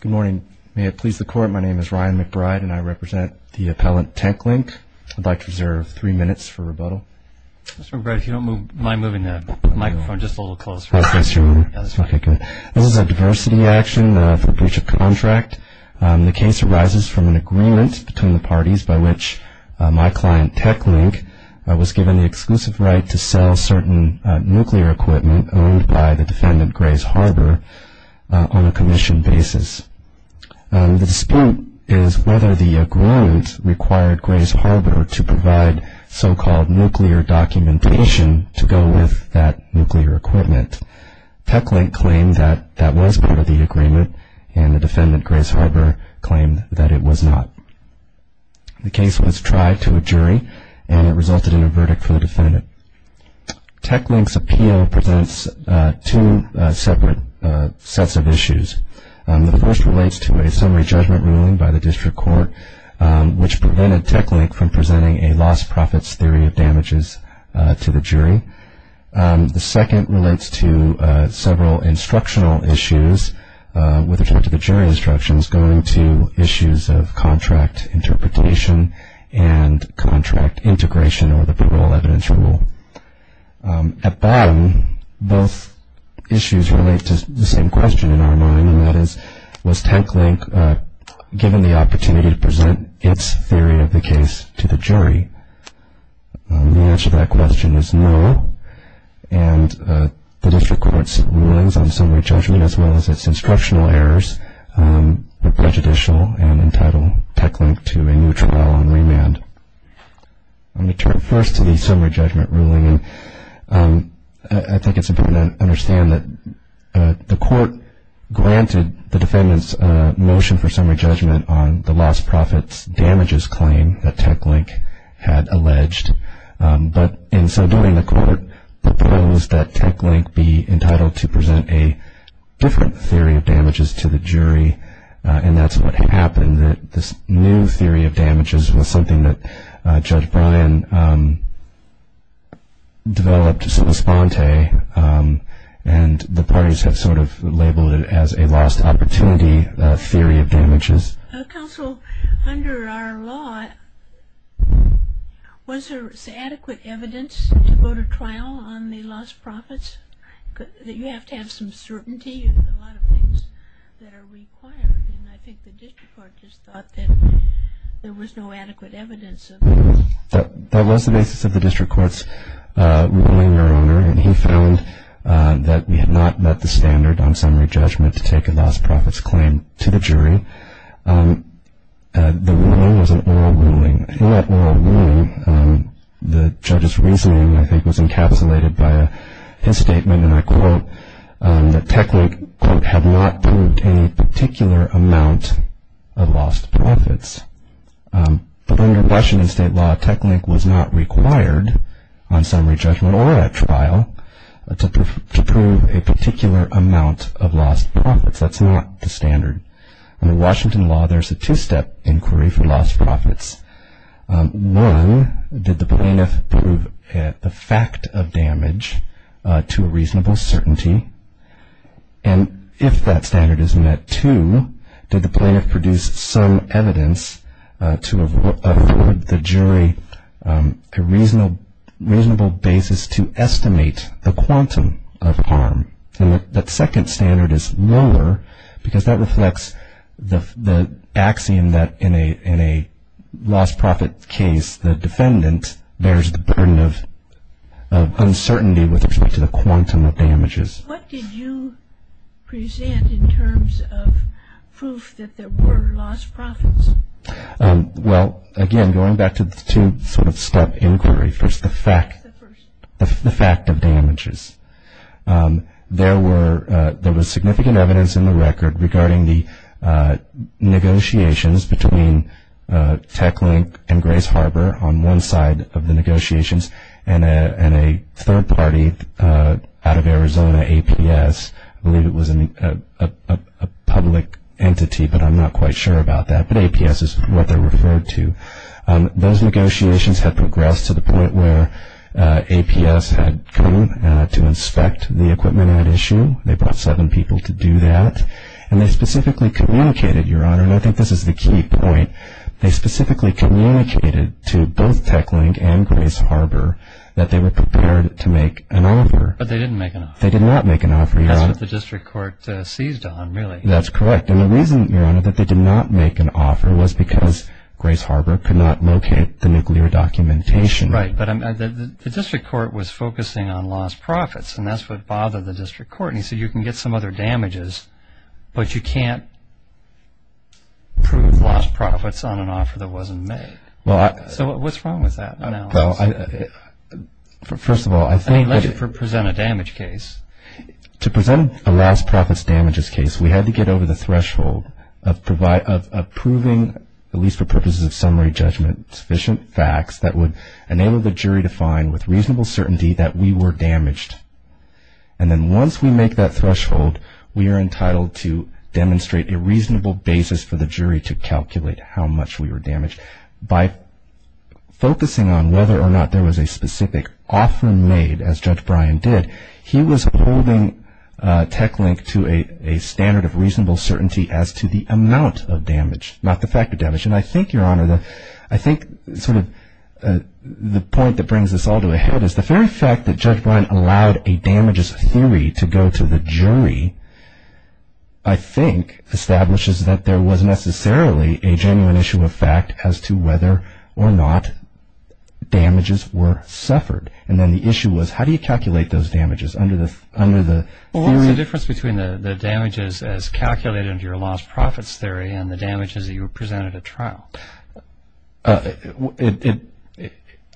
Good morning. May it please the Court, my name is Ryan McBride and I represent the appellant Tecklink. I'd like to reserve three minutes for rebuttal. Mr. McBride, if you don't mind moving the microphone just a little closer. Okay, sure. This is a diversity action for breach of contract. The case arises from an agreement between the parties by which my client, Tecklink, was given the exclusive right to sell certain nuclear equipment owned by the defendant, Grays Harbor, on a commission basis. The dispute is whether the agreement required Grays Harbor to provide so-called nuclear documentation to go with that nuclear equipment. Tecklink claimed that that was part of the agreement and the defendant, Grays Harbor, claimed that it was not. The case was tried to a jury and it resulted in a verdict for the defendant. Tecklink's appeal presents two separate sets of issues. The first relates to a summary judgment ruling by the district court, which prevented Tecklink from presenting a lost profits theory of damages to the jury. The second relates to several instructional issues with regard to the jury instructions going to issues of contract interpretation and contract integration or the parole evidence rule. At bottom, both issues relate to the same question in our mind, and that is, was Tecklink given the opportunity to present its theory of the case to the jury? The answer to that question is no. And the district court's rulings on summary judgment, as well as its instructional errors, are prejudicial and entitle Tecklink to a new trial on remand. I'm going to turn first to the summary judgment ruling. I think it's important to understand that the court granted the defendant's motion for summary judgment on the lost profits damages claim that Tecklink had alleged. But in so doing, the court proposed that Tecklink be entitled to present a different theory of damages to the jury, and that's what happened, that this new theory of damages was something that Judge Bryan developed and the parties have sort of labeled it as a lost opportunity theory of damages. Counsel, under our law, was there adequate evidence to go to trial on the lost profits? You have to have some certainty in a lot of things that are required, and I think the district court just thought that there was no adequate evidence of it. That was the basis of the district court's ruling, Your Honor, and he found that we had not met the standard on summary judgment to take a lost profits claim to the jury. The ruling was an oral ruling. In that oral ruling, the judge's reasoning, I think, was encapsulated by his statement, and I quote, that Tecklink, quote, had not proved any particular amount of lost profits. But under Washington state law, Tecklink was not required on summary judgment or at trial to prove a particular amount of lost profits. That's not the standard. Under Washington law, there's a two-step inquiry for lost profits. One, did the plaintiff prove the fact of damage to a reasonable certainty? And if that standard is met, two, did the plaintiff produce some evidence to afford the jury a reasonable basis to estimate the quantum of harm? And that second standard is lower because that reflects the axiom that in a lost profit case, the defendant bears the burden of uncertainty with respect to the quantum of damages. What did you present in terms of proof that there were lost profits? Well, again, going back to the two-step inquiry, first the fact of damages. There was significant evidence in the record regarding the negotiations between Tecklink and Grace Harbor on one side of the negotiations and a third party out of Arizona, APS. I believe it was a public entity, but I'm not quite sure about that. But APS is what they're referred to. Those negotiations had progressed to the point where APS had come to inspect the equipment at issue. They brought seven people to do that. And they specifically communicated, Your Honor, and I think this is the key point, they specifically communicated to both Tecklink and Grace Harbor that they were prepared to make an offer. But they didn't make an offer. They did not make an offer, Your Honor. That's what the district court seized on, really. That's correct. And the reason, Your Honor, that they did not make an offer was because Grace Harbor could not locate the nuclear documentation. Right. But the district court was focusing on lost profits, and that's what bothered the district court. And he said you can get some other damages, but you can't prove lost profits on an offer that wasn't made. So what's wrong with that analysis? First of all, I think that – I mean, let's present a damage case. To present a lost profits damages case, we had to get over the threshold of proving, at least for purposes of summary judgment, sufficient facts that would enable the jury to find with reasonable certainty that we were damaged. And then once we make that threshold, we are entitled to demonstrate a reasonable basis for the jury to calculate how much we were damaged. By focusing on whether or not there was a specific offer made, as Judge Bryan did, he was holding TechLink to a standard of reasonable certainty as to the amount of damage, not the fact of damage. And I think, Your Honor, I think sort of the point that brings this all to a head is the very fact that Judge Bryan allowed a damages theory to go to the jury, I think, establishes that there was necessarily a genuine issue of fact as to whether or not damages were suffered. And then the issue was how do you calculate those damages under the theory – Well, what was the difference between the damages as calculated under your lost profits theory and the damages that you presented at trial?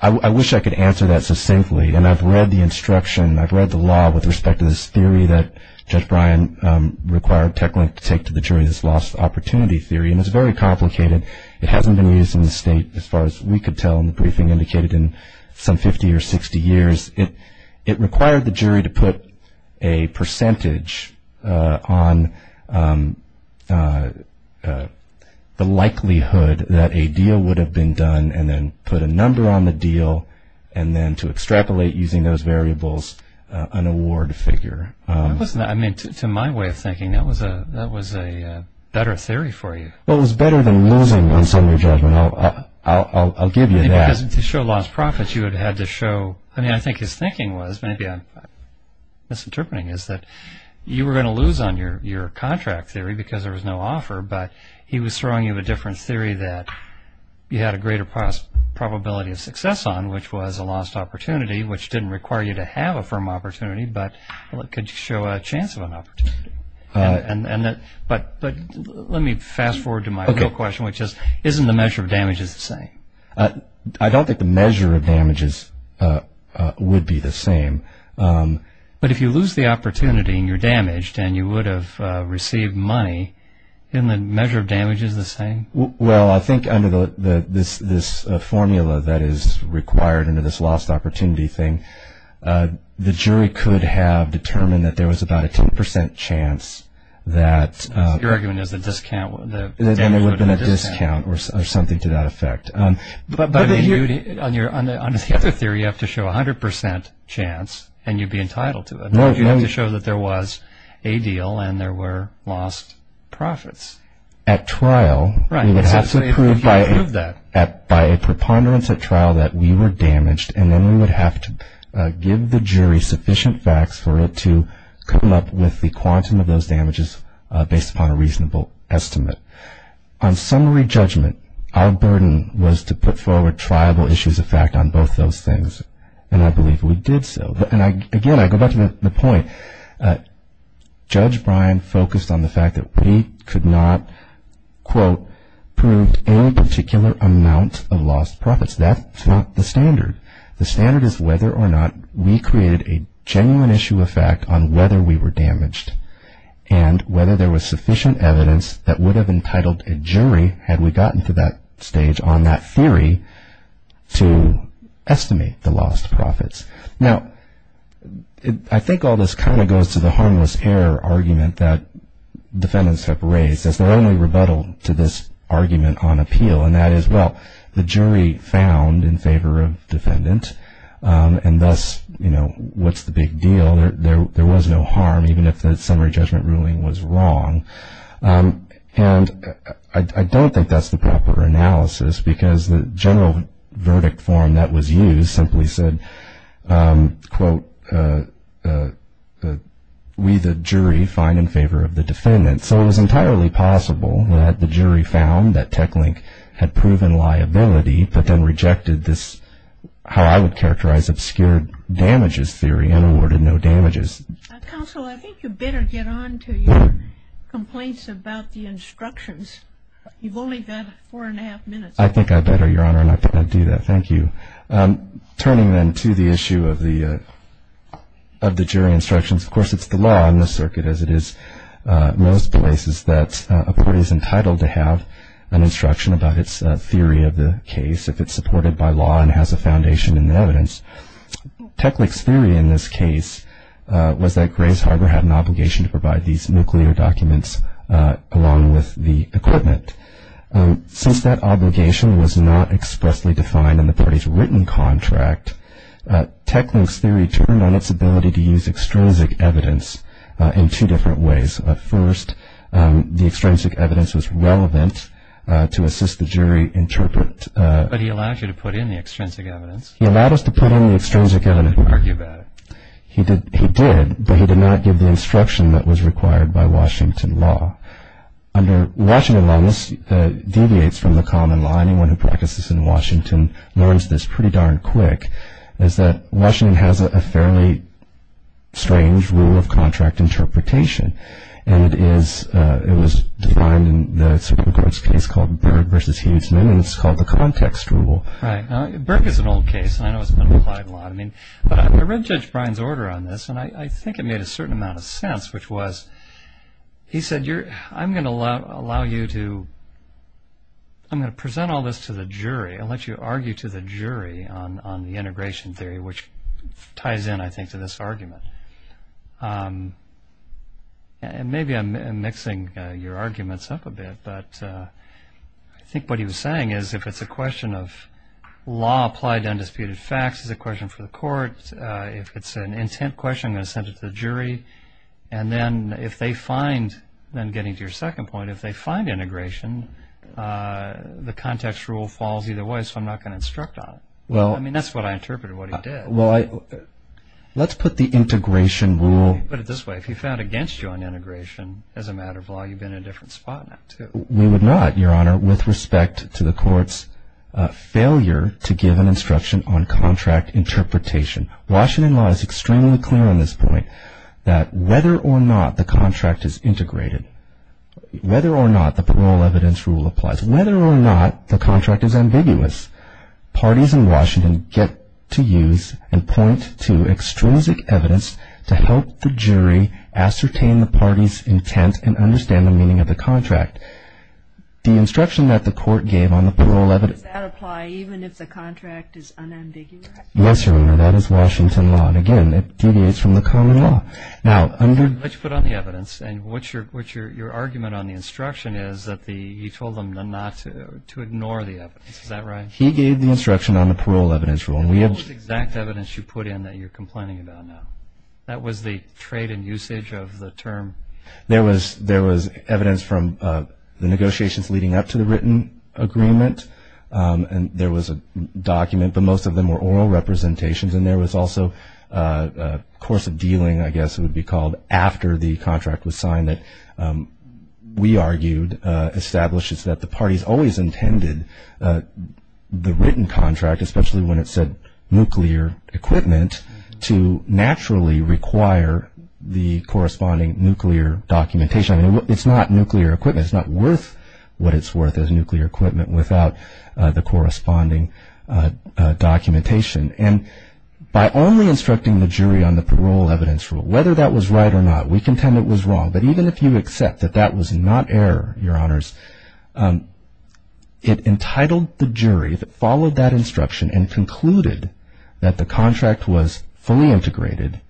I wish I could answer that succinctly, and I've read the instruction, I've read the law with respect to this theory that Judge Bryan required TechLink to take to the jury, this lost opportunity theory, and it's very complicated. It hasn't been used in the state as far as we could tell in the briefing, indicated in some 50 or 60 years. It required the jury to put a percentage on the likelihood that a deal would have been done and then put a number on the deal and then to extrapolate using those variables an award figure. I mean, to my way of thinking, that was a better theory for you. Well, it was better than losing on Sunday judgment. I'll give you that. Because to show lost profits, you had to show – I mean, I think his thinking was, maybe I'm misinterpreting, is that you were going to lose on your contract theory because there was no offer, but he was throwing you a different theory that you had a greater probability of success on, which was a lost opportunity, which didn't require you to have a firm opportunity, but could show a chance of an opportunity. But let me fast forward to my real question, which is, isn't the measure of damage the same? I don't think the measure of damage would be the same. But if you lose the opportunity and you're damaged and you would have received money, isn't the measure of damage the same? Well, I think under this formula that is required under this lost opportunity thing, the jury could have determined that there was about a 10% chance that – So your argument is the discount – Then there would have been a discount or something to that effect. But on the other theory, you have to show 100% chance and you'd be entitled to it. No, no. You have to show that there was a deal and there were lost profits. At trial, we would have to prove by a preponderance at trial that we were damaged, and then we would have to give the jury sufficient facts for it to come up with the quantum of those damages based upon a reasonable estimate. On summary judgment, our burden was to put forward triable issues of fact on both those things, and I believe we did so. And again, I go back to the point. Judge Bryan focused on the fact that we could not, quote, proved any particular amount of lost profits. That's not the standard. The standard is whether or not we created a genuine issue of fact on whether we were damaged and whether there was sufficient evidence that would have entitled a jury, had we gotten to that stage on that theory, to estimate the lost profits. Now, I think all this kind of goes to the harmless error argument that defendants have raised. They're only rebuttal to this argument on appeal, and that is, well, the jury found in favor of defendant, and thus, you know, what's the big deal? There was no harm, even if the summary judgment ruling was wrong. And I don't think that's the proper analysis because the general verdict form that was used simply said, quote, we, the jury, find in favor of the defendant. So it was entirely possible that the jury found that TechLink had proven liability but then rejected this, how I would characterize, obscure damages theory and awarded no damages. Counsel, I think you'd better get on to your complaints about the instructions. You've only got four and a half minutes. I think I better, Your Honor, and I can't do that. Thank you. Turning then to the issue of the jury instructions, of course, it's the law on this circuit as it is. Most places that a court is entitled to have an instruction about its theory of the case, if it's supported by law and has a foundation in the evidence. TechLink's theory in this case was that Grays Harbor had an obligation to provide these nuclear documents along with the equipment. Since that obligation was not expressly defined in the party's written contract, TechLink's theory turned on its ability to use extrinsic evidence in two different ways. First, the extrinsic evidence was relevant to assist the jury interpret. But he allowed you to put in the extrinsic evidence. He allowed us to put in the extrinsic evidence. He didn't argue about it. He did, but he did not give the instruction that was required by Washington law. Under Washington law, this deviates from the common law. Anyone who practices in Washington learns this pretty darn quick, is that Washington has a fairly strange rule of contract interpretation. It was defined in the Supreme Court's case called Berg v. Hughesman, and it's called the context rule. Berg is an old case, and I know it's been applied a lot. But I read Judge Bryan's order on this, and I think it made a certain amount of sense, which was he said, I'm going to present all this to the jury. I'll let you argue to the jury on the integration theory, which ties in, I think, to this argument. Maybe I'm mixing your arguments up a bit, but I think what he was saying is if it's a question of law applied to undisputed facts, it's a question for the court. If it's an intent question, I'm going to send it to the jury. And then if they find, then getting to your second point, if they find integration, the context rule falls either way, so I'm not going to instruct on it. I mean, that's what I interpreted, what he did. Well, let's put the integration rule. Put it this way. If he found against you on integration as a matter of law, you've been in a different spot now, too. We would not, Your Honor, with respect to the court's failure to give an instruction on contract interpretation, Washington law is extremely clear on this point, that whether or not the contract is integrated, whether or not the parole evidence rule applies, whether or not the contract is ambiguous, parties in Washington get to use and point to extrinsic evidence to help the jury ascertain the party's intent and understand the meaning of the contract. The instruction that the court gave on the parole evidence. Does that apply even if the contract is unambiguous? Yes, Your Honor. That is Washington law. And again, it deviates from the common law. Now, under... Let's put on the evidence. And what's your argument on the instruction is that he told them not to ignore the evidence. Is that right? He gave the instruction on the parole evidence rule. And what was the exact evidence you put in that you're complaining about now? That was the trade and usage of the term. There was evidence from the negotiations leading up to the written agreement. And there was a document, but most of them were oral representations. And there was also a course of dealing, I guess it would be called, after the contract was signed that we argued establishes that the parties always intended the written contract, especially when it said nuclear equipment, to naturally require the corresponding nuclear documentation. It's not nuclear equipment. It's not worth what it's worth as nuclear equipment without the corresponding documentation. And by only instructing the jury on the parole evidence rule, whether that was right or not, we contend it was wrong. But even if you accept that that was not error, Your Honors, it entitled the jury that followed that instruction and concluded that the contract was fully integrated,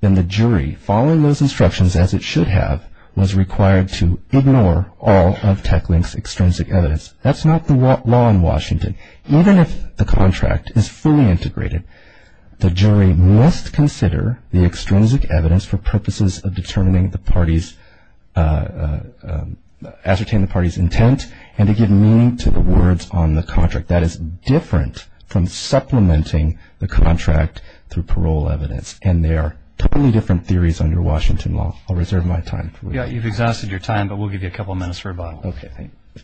then the jury, following those instructions as it should have, was required to ignore all of TechLink's extrinsic evidence. That's not the law in Washington. Even if the contract is fully integrated, the jury must consider the extrinsic evidence for purposes of ascertaining the party's intent and to give meaning to the words on the contract. That is different from supplementing the contract through parole evidence, and they are totally different theories under Washington law. I'll reserve my time. Yeah, you've exhausted your time, but we'll give you a couple minutes for rebuttal. Okay, thank you.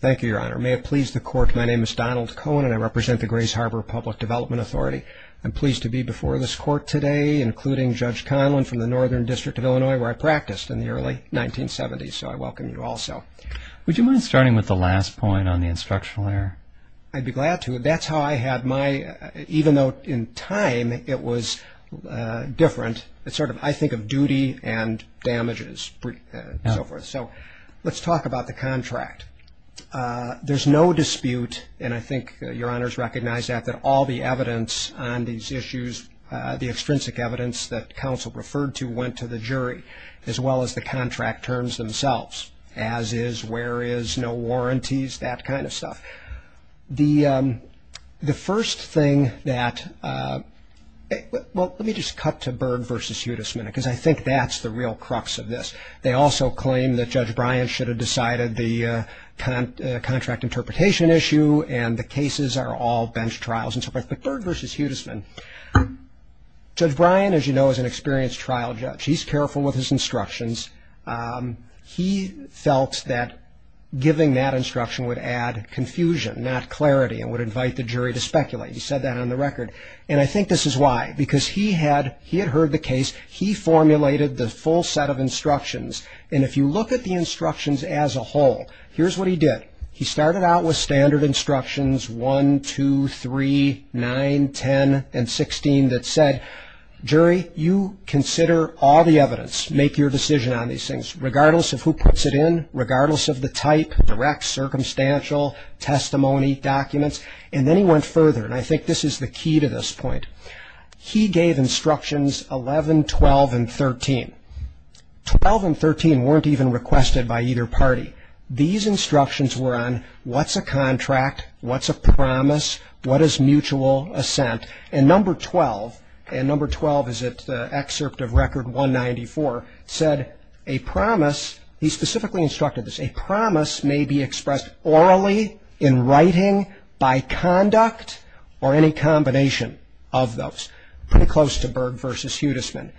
Thank you, Your Honor. May it please the court, my name is Donald Cohen, and I represent the Grays Harbor Public Development Authority. I'm pleased to be before this court today, including Judge Conlon from the Northern District of Illinois, where I practiced in the early 1970s, so I welcome you also. Would you mind starting with the last point on the instructional error? I'd be glad to. That's how I had my, even though in time it was different, it's sort of, I think of duty and damages and so forth. So let's talk about the contract. There's no dispute, and I think Your Honor's recognized that, that all the evidence on these issues, the extrinsic evidence that counsel referred to went to the jury, as well as the contract terms themselves, as is, where is, no warranties, that kind of stuff. The first thing that, well, let me just cut to Berg v. Hudisman, because I think that's the real crux of this. They also claim that Judge Bryan should have decided the contract interpretation issue, and the cases are all bench trials and so forth. But Berg v. Hudisman, Judge Bryan, as you know, is an experienced trial judge. He's careful with his instructions. He felt that giving that instruction would add confusion, not clarity, and would invite the jury to speculate. He said that on the record. And I think this is why, because he had heard the case. He formulated the full set of instructions. And if you look at the instructions as a whole, here's what he did. He started out with standard instructions, 1, 2, 3, 9, 10, and 16, that said, Jury, you consider all the evidence, make your decision on these things, regardless of who puts it in, regardless of the type, direct, circumstantial, testimony, documents. And then he went further, and I think this is the key to this point. He gave instructions 11, 12, and 13. 12 and 13 weren't even requested by either party. These instructions were on what's a contract, what's a promise, what is mutual assent. And number 12, and number 12 is at the excerpt of record 194, said, a promise, he specifically instructed this, a promise may be expressed orally, in writing, by conduct, or any combination of those. Pretty close to Berg v. Hudisman.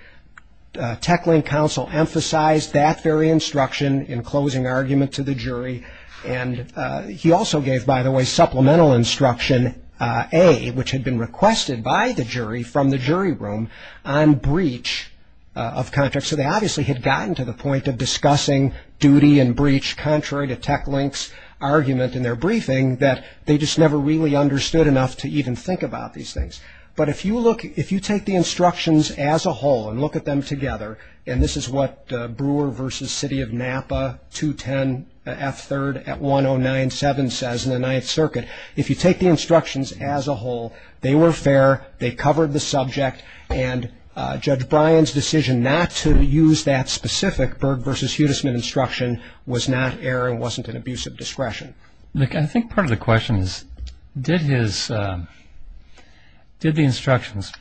TechLink Counsel emphasized that very instruction in closing argument to the jury. And he also gave, by the way, supplemental instruction A, which had been requested by the jury from the jury room, on breach of contract. So they obviously had gotten to the point of discussing duty and breach, contrary to TechLink's argument in their briefing, that they just never really understood enough to even think about these things. But if you look, if you take the instructions as a whole and look at them together, and this is what Brewer v. City of Napa, 210F3rd at 1097 says in the Ninth Circuit, if you take the instructions as a whole, they were fair, they covered the subject, and Judge Bryan's decision not to use that specific Berg v. Hudisman instruction was not error Look, I think part of the question is, did his, did the instructions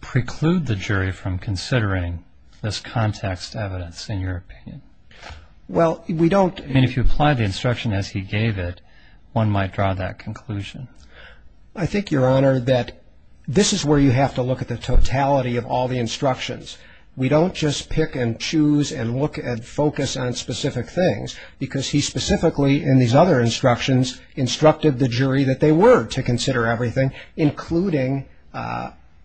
preclude the jury from considering this context evidence, in your opinion? Well, we don't I mean, if you apply the instruction as he gave it, one might draw that conclusion. I think, Your Honor, that this is where you have to look at the totality of all the instructions. We don't just pick and choose and look and focus on specific things, because he specifically, in these other instructions, instructed the jury that they were to consider everything, including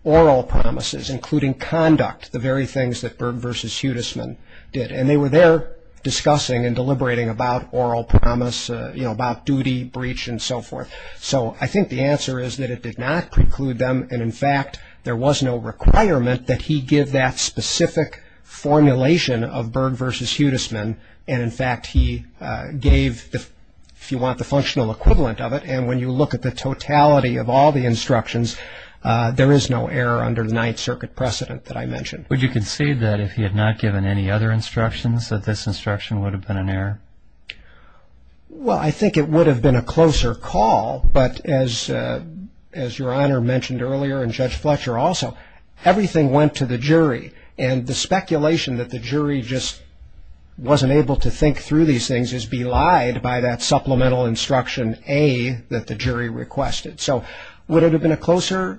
oral promises, including conduct, the very things that Berg v. Hudisman did. And they were there discussing and deliberating about oral promise, about duty, breach, and so forth. So I think the answer is that it did not preclude them, and in fact, there was no requirement that he give that specific formulation of Berg v. Hudisman, and in fact, he gave, if you want, the functional equivalent of it. And when you look at the totality of all the instructions, there is no error under the Ninth Circuit precedent that I mentioned. Would you concede that if he had not given any other instructions, that this instruction would have been an error? Well, I think it would have been a closer call, but as Your Honor mentioned earlier, and Judge Fletcher also, everything went to the jury, and the speculation that the jury just wasn't able to think through these things is belied by that supplemental instruction A that the jury requested. So would it have been a closer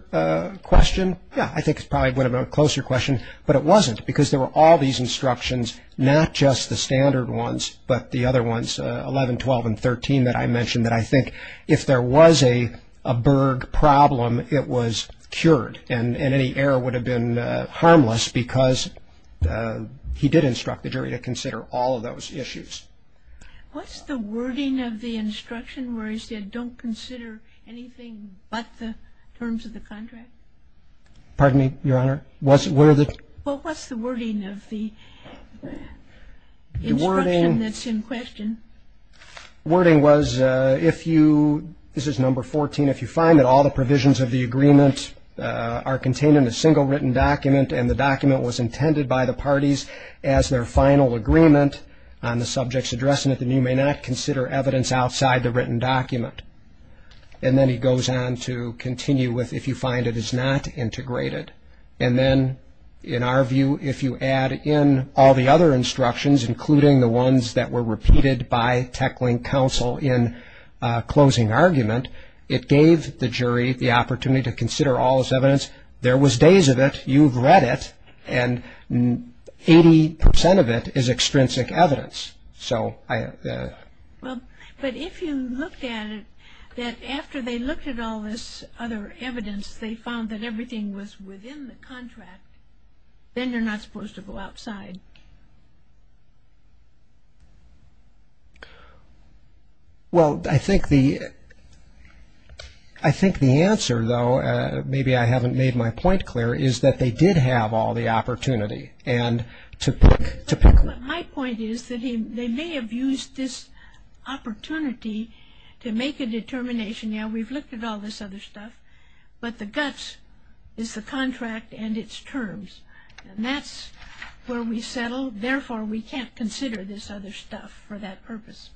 question? Yeah, I think it probably would have been a closer question, but it wasn't, because there were all these instructions, not just the standard ones, but the other ones, 11, 12, and 13, that I mentioned that I think if there was a Berg problem, it was cured, and any error would have been harmless because he did instruct the jury to consider all of those issues. What's the wording of the instruction where he said don't consider anything but the terms of the contract? Pardon me, Your Honor? What's the wording of the instruction that's in question? The wording was if you, this is number 14, if you find that all the provisions of the agreement are contained in a single written document and the document was intended by the parties as their final agreement on the subject's addressment, then you may not consider evidence outside the written document. And then he goes on to continue with if you find it is not integrated. And then in our view, if you add in all the other instructions, including the ones that were repeated by TechLink Counsel in closing argument, it gave the jury the opportunity to consider all this evidence. There was days of it. You've read it, and 80% of it is extrinsic evidence. But if you looked at it, that after they looked at all this other evidence, they found that everything was within the contract, then you're not supposed to go outside. Well, I think the answer, though, maybe I haven't made my point clear, is that they did have all the opportunity. My point is that they may have used this opportunity to make a determination. Yeah, we've looked at all this other stuff, but the guts is the contract and its terms. And that's where we settle. Therefore, we can't consider this other stuff for that purpose.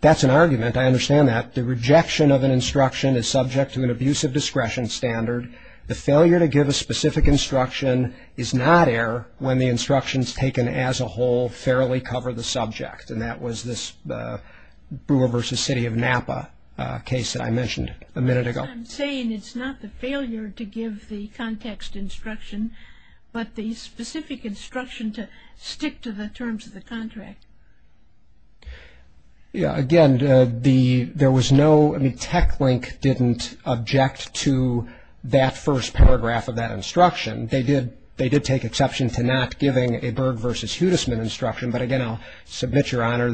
That's an argument. I understand that. The rejection of an instruction is subject to an abuse of discretion standard. The failure to give a specific instruction is not error when the instructions taken as a whole fairly cover the subject. And that was this Brewer v. City of Napa case that I mentioned a minute ago. I'm saying it's not the failure to give the context instruction, but the specific instruction to stick to the terms of the contract. Yeah, again, there was no ‑‑ I mean, TechLink didn't object to that first paragraph of that instruction. They did take exception to not giving a Berg v. Hudesman instruction. But again, I'll submit, Your Honor,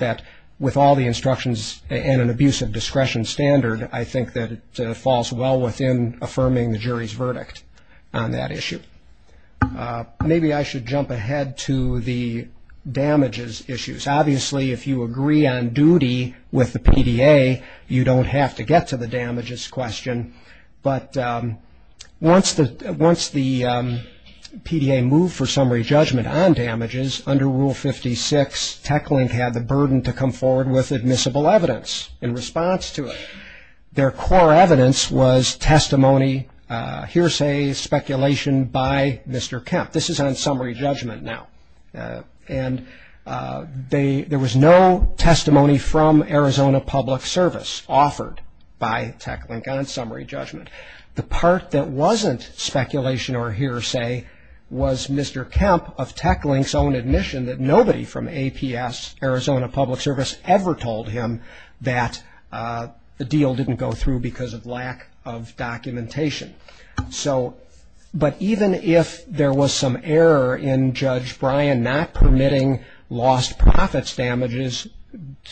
that with all the instructions and an abuse of discretion standard, I think that it falls well within affirming the jury's verdict on that issue. Maybe I should jump ahead to the damages issues. Obviously, if you agree on duty with the PDA, you don't have to get to the damages question. But once the PDA moved for summary judgment on damages under Rule 56, TechLink had the burden to come forward with admissible evidence in response to it. Their core evidence was testimony, hearsay, speculation by Mr. Kemp. This is on summary judgment now. And there was no testimony from Arizona Public Service offered by TechLink on summary judgment. The part that wasn't speculation or hearsay was Mr. Kemp of TechLink's own admission that nobody from APS, Arizona Public Service, ever told him that the deal didn't go through because of lack of documentation. So, but even if there was some error in Judge Bryan not permitting lost profits damages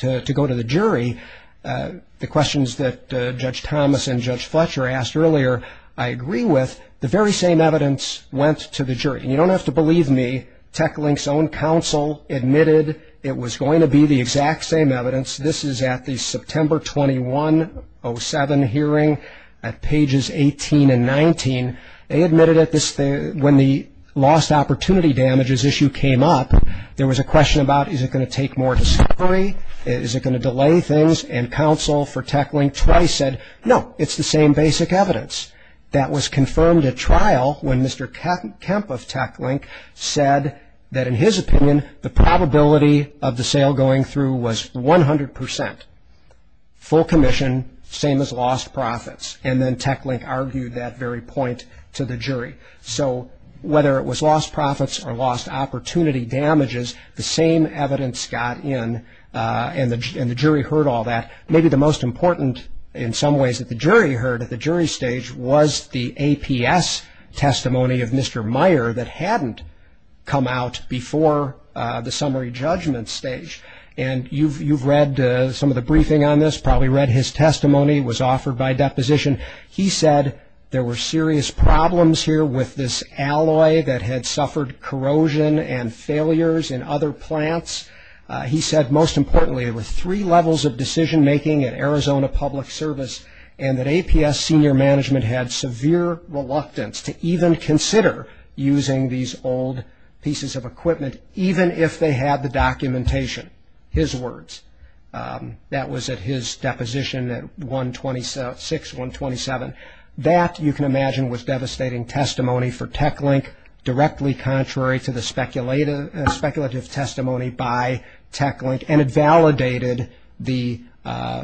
to go to the jury, the questions that Judge Thomas and Judge Fletcher asked earlier, I agree with. The very same evidence went to the jury. And you don't have to believe me, TechLink's own counsel admitted it was going to be the exact same evidence. This is at the September 21, 07 hearing at pages 18 and 19. They admitted it when the lost opportunity damages issue came up. There was a question about is it going to take more discovery? Is it going to delay things? And counsel for TechLink twice said, no, it's the same basic evidence. That was confirmed at trial when Mr. Kemp of TechLink said that in his opinion, the probability of the sale going through was 100 percent. Full commission, same as lost profits. And then TechLink argued that very point to the jury. So, whether it was lost profits or lost opportunity damages, the same evidence got in, and the jury heard all that. Maybe the most important in some ways that the jury heard at the jury stage was the APS testimony of Mr. Meyer that hadn't come out before the summary judgment stage. And you've read some of the briefing on this, probably read his testimony. It was offered by deposition. He said there were serious problems here with this alloy that had suffered corrosion and failures in other plants. He said, most importantly, there were three levels of decision making at Arizona Public Service, and that APS senior management had severe reluctance to even consider using these old pieces of equipment, even if they had the documentation, his words. That was at his deposition at 126, 127. That, you can imagine, was devastating testimony for TechLink, directly contrary to the speculative testimony by TechLink, and it validated the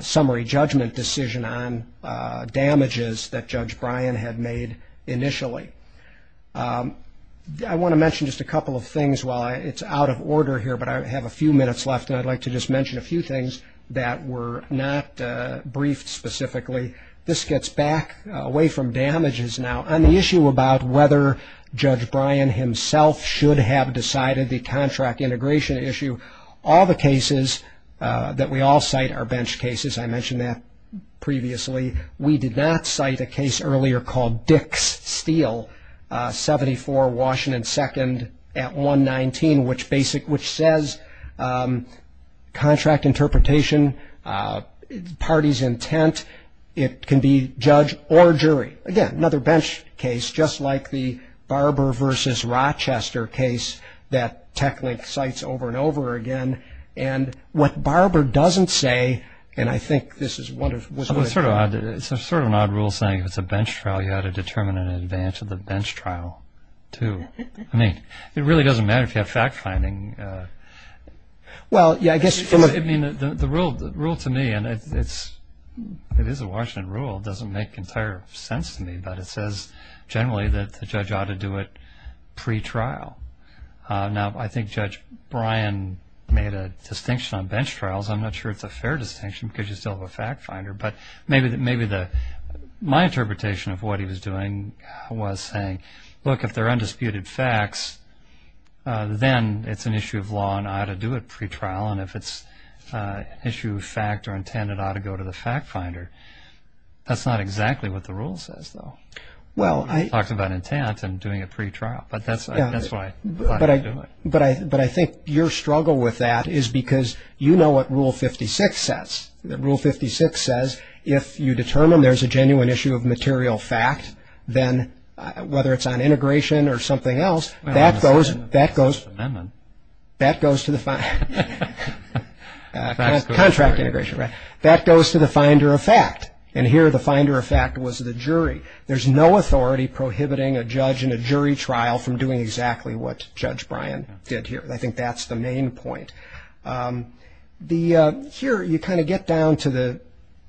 summary judgment decision on damages that Judge Bryan had made initially. I want to mention just a couple of things while it's out of order here, but I have a few minutes left, and I'd like to just mention a few things that were not briefed specifically. This gets back away from damages now. On the issue about whether Judge Bryan himself should have decided the contract integration issue, all the cases that we all cite are bench cases. I mentioned that previously. We did not cite a case earlier called Dick's Steel, 74 Washington 2nd at 119, which says contract interpretation, party's intent, it can be judge or jury. Again, another bench case, just like the Barber v. Rochester case that TechLink cites over and over again, and what Barber doesn't say, and I think this is one of... It's sort of an odd rule saying if it's a bench trial, you ought to determine in advance of the bench trial, too. I mean, it really doesn't matter if you have fact-finding. Well, yeah, I guess from a... I mean, the rule to me, and it is a Washington rule, doesn't make entire sense to me, but it says generally that the judge ought to do it pre-trial. Now, I think Judge Bryan made a distinction on bench trials. I'm not sure it's a fair distinction because you still have a fact-finder, but maybe my interpretation of what he was doing was saying, look, if they're undisputed facts, then it's an issue of law and I ought to do it pre-trial, and if it's an issue of fact or intent, it ought to go to the fact-finder. That's not exactly what the rule says, though. He talks about intent and doing it pre-trial, but that's what I thought he was doing. But I think your struggle with that is because you know what Rule 56 says. Rule 56 says if you determine there's a genuine issue of material fact, then whether it's on integration or something else, that goes to the... Amendment. That goes to the... Contract integration. Contract integration, right. That goes to the finder of fact, and here the finder of fact was the jury. There's no authority prohibiting a judge in a jury trial from doing exactly what Judge Bryan did here. I think that's the main point. Here you kind of get down to the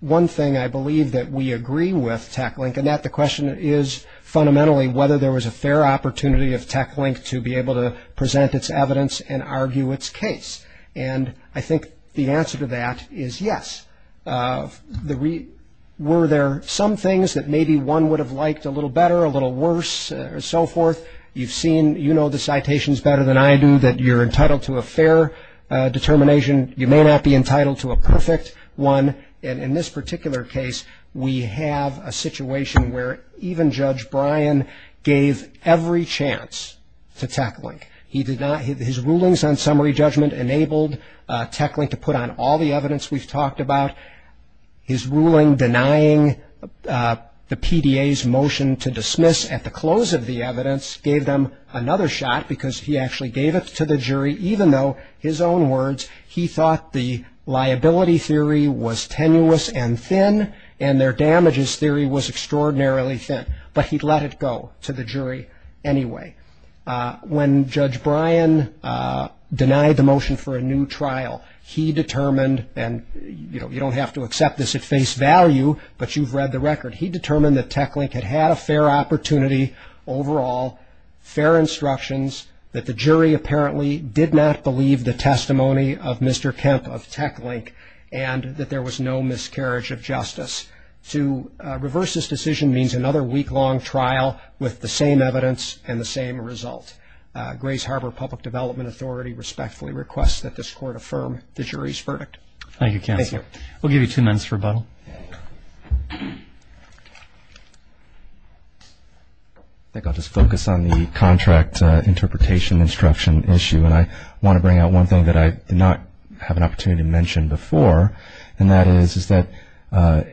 one thing I believe that we agree with, TechLink, and that the question is fundamentally whether there was a fair opportunity of TechLink to be able to present its evidence and argue its case, and I think the answer to that is yes. Were there some things that maybe one would have liked a little better, a little worse, or so forth? You've seen, you know the citations better than I do, that you're entitled to a fair determination. You may not be entitled to a perfect one, and in this particular case, we have a situation where even Judge Bryan gave every chance to TechLink. His rulings on summary judgment enabled TechLink to put on all the evidence we've talked about. His ruling denying the PDA's motion to dismiss at the close of the evidence gave them another shot because he actually gave it to the jury, even though, his own words, he thought the liability theory was tenuous and thin, and their damages theory was extraordinarily thin, but he let it go to the jury anyway. When Judge Bryan denied the motion for a new trial, he determined, and you don't have to accept this at face value, but you've read the record, he determined that TechLink had had a fair opportunity overall, fair instructions, that the jury apparently did not believe the testimony of Mr. Kemp of TechLink, and that there was no miscarriage of justice. To reverse this decision means another week-long trial with the same evidence and the same result. Grace Harbor Public Development Authority respectfully requests that this Court affirm the jury's verdict. Thank you, Counselor. Thank you. We'll give you two minutes for rebuttal. I think I'll just focus on the contract interpretation instruction issue, and I want to bring out one thing that I did not have an opportunity to mention before, and that is that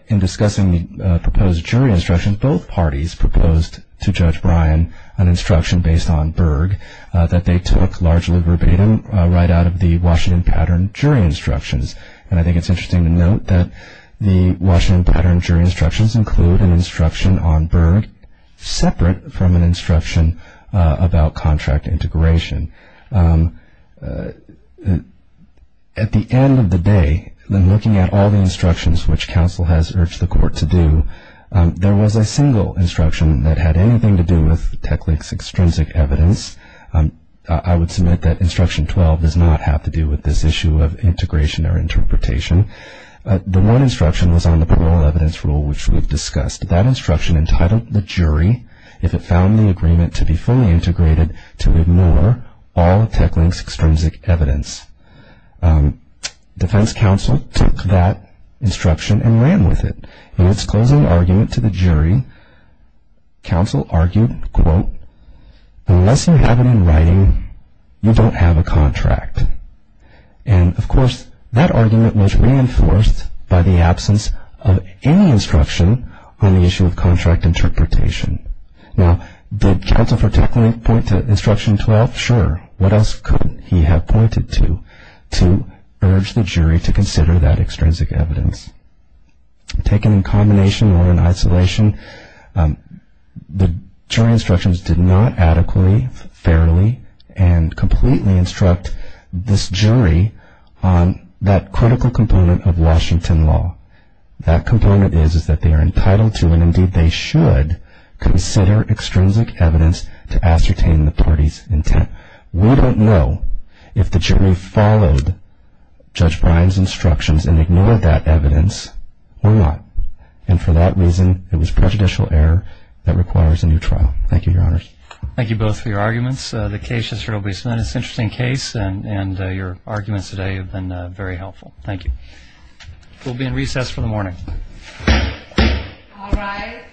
in discussing the proposed jury instruction, both parties proposed to Judge Bryan an instruction based on Berg that they took largely verbatim right out of the Washington Pattern jury instructions, and I think it's interesting to note that the Washington Pattern jury instructions include an instruction on Berg separate from an instruction about contract integration. At the end of the day, in looking at all the instructions which Counsel has urged the Court to do, there was a single instruction that had anything to do with TechLink's extrinsic evidence. I would submit that instruction 12 does not have to do with this issue of integration or interpretation. The one instruction was on the parole evidence rule, which we've discussed. That instruction entitled the jury, if it found the agreement to be fully integrated, to ignore all of TechLink's extrinsic evidence. Defense Counsel took that instruction and ran with it. In its closing argument to the jury, Counsel argued, quote, unless you have it in writing, you don't have a contract. And, of course, that argument was reinforced by the absence of any instruction on the issue of contract interpretation. Now, did Counsel for TechLink point to instruction 12? Not sure. What else could he have pointed to to urge the jury to consider that extrinsic evidence? Taken in combination or in isolation, the jury instructions did not adequately, fairly, and completely instruct this jury on that critical component of Washington law. That component is that they are entitled to, and indeed they should, consider extrinsic evidence to ascertain the parties' intent. We don't know if the jury followed Judge Bryan's instructions and ignored that evidence or not. And for that reason, it was prejudicial error that requires a new trial. Thank you, Your Honors. Thank you both for your arguments. The case has certainly been an interesting case and your arguments today have been very helpful. Thank you. We'll be in recess for the morning. All rise.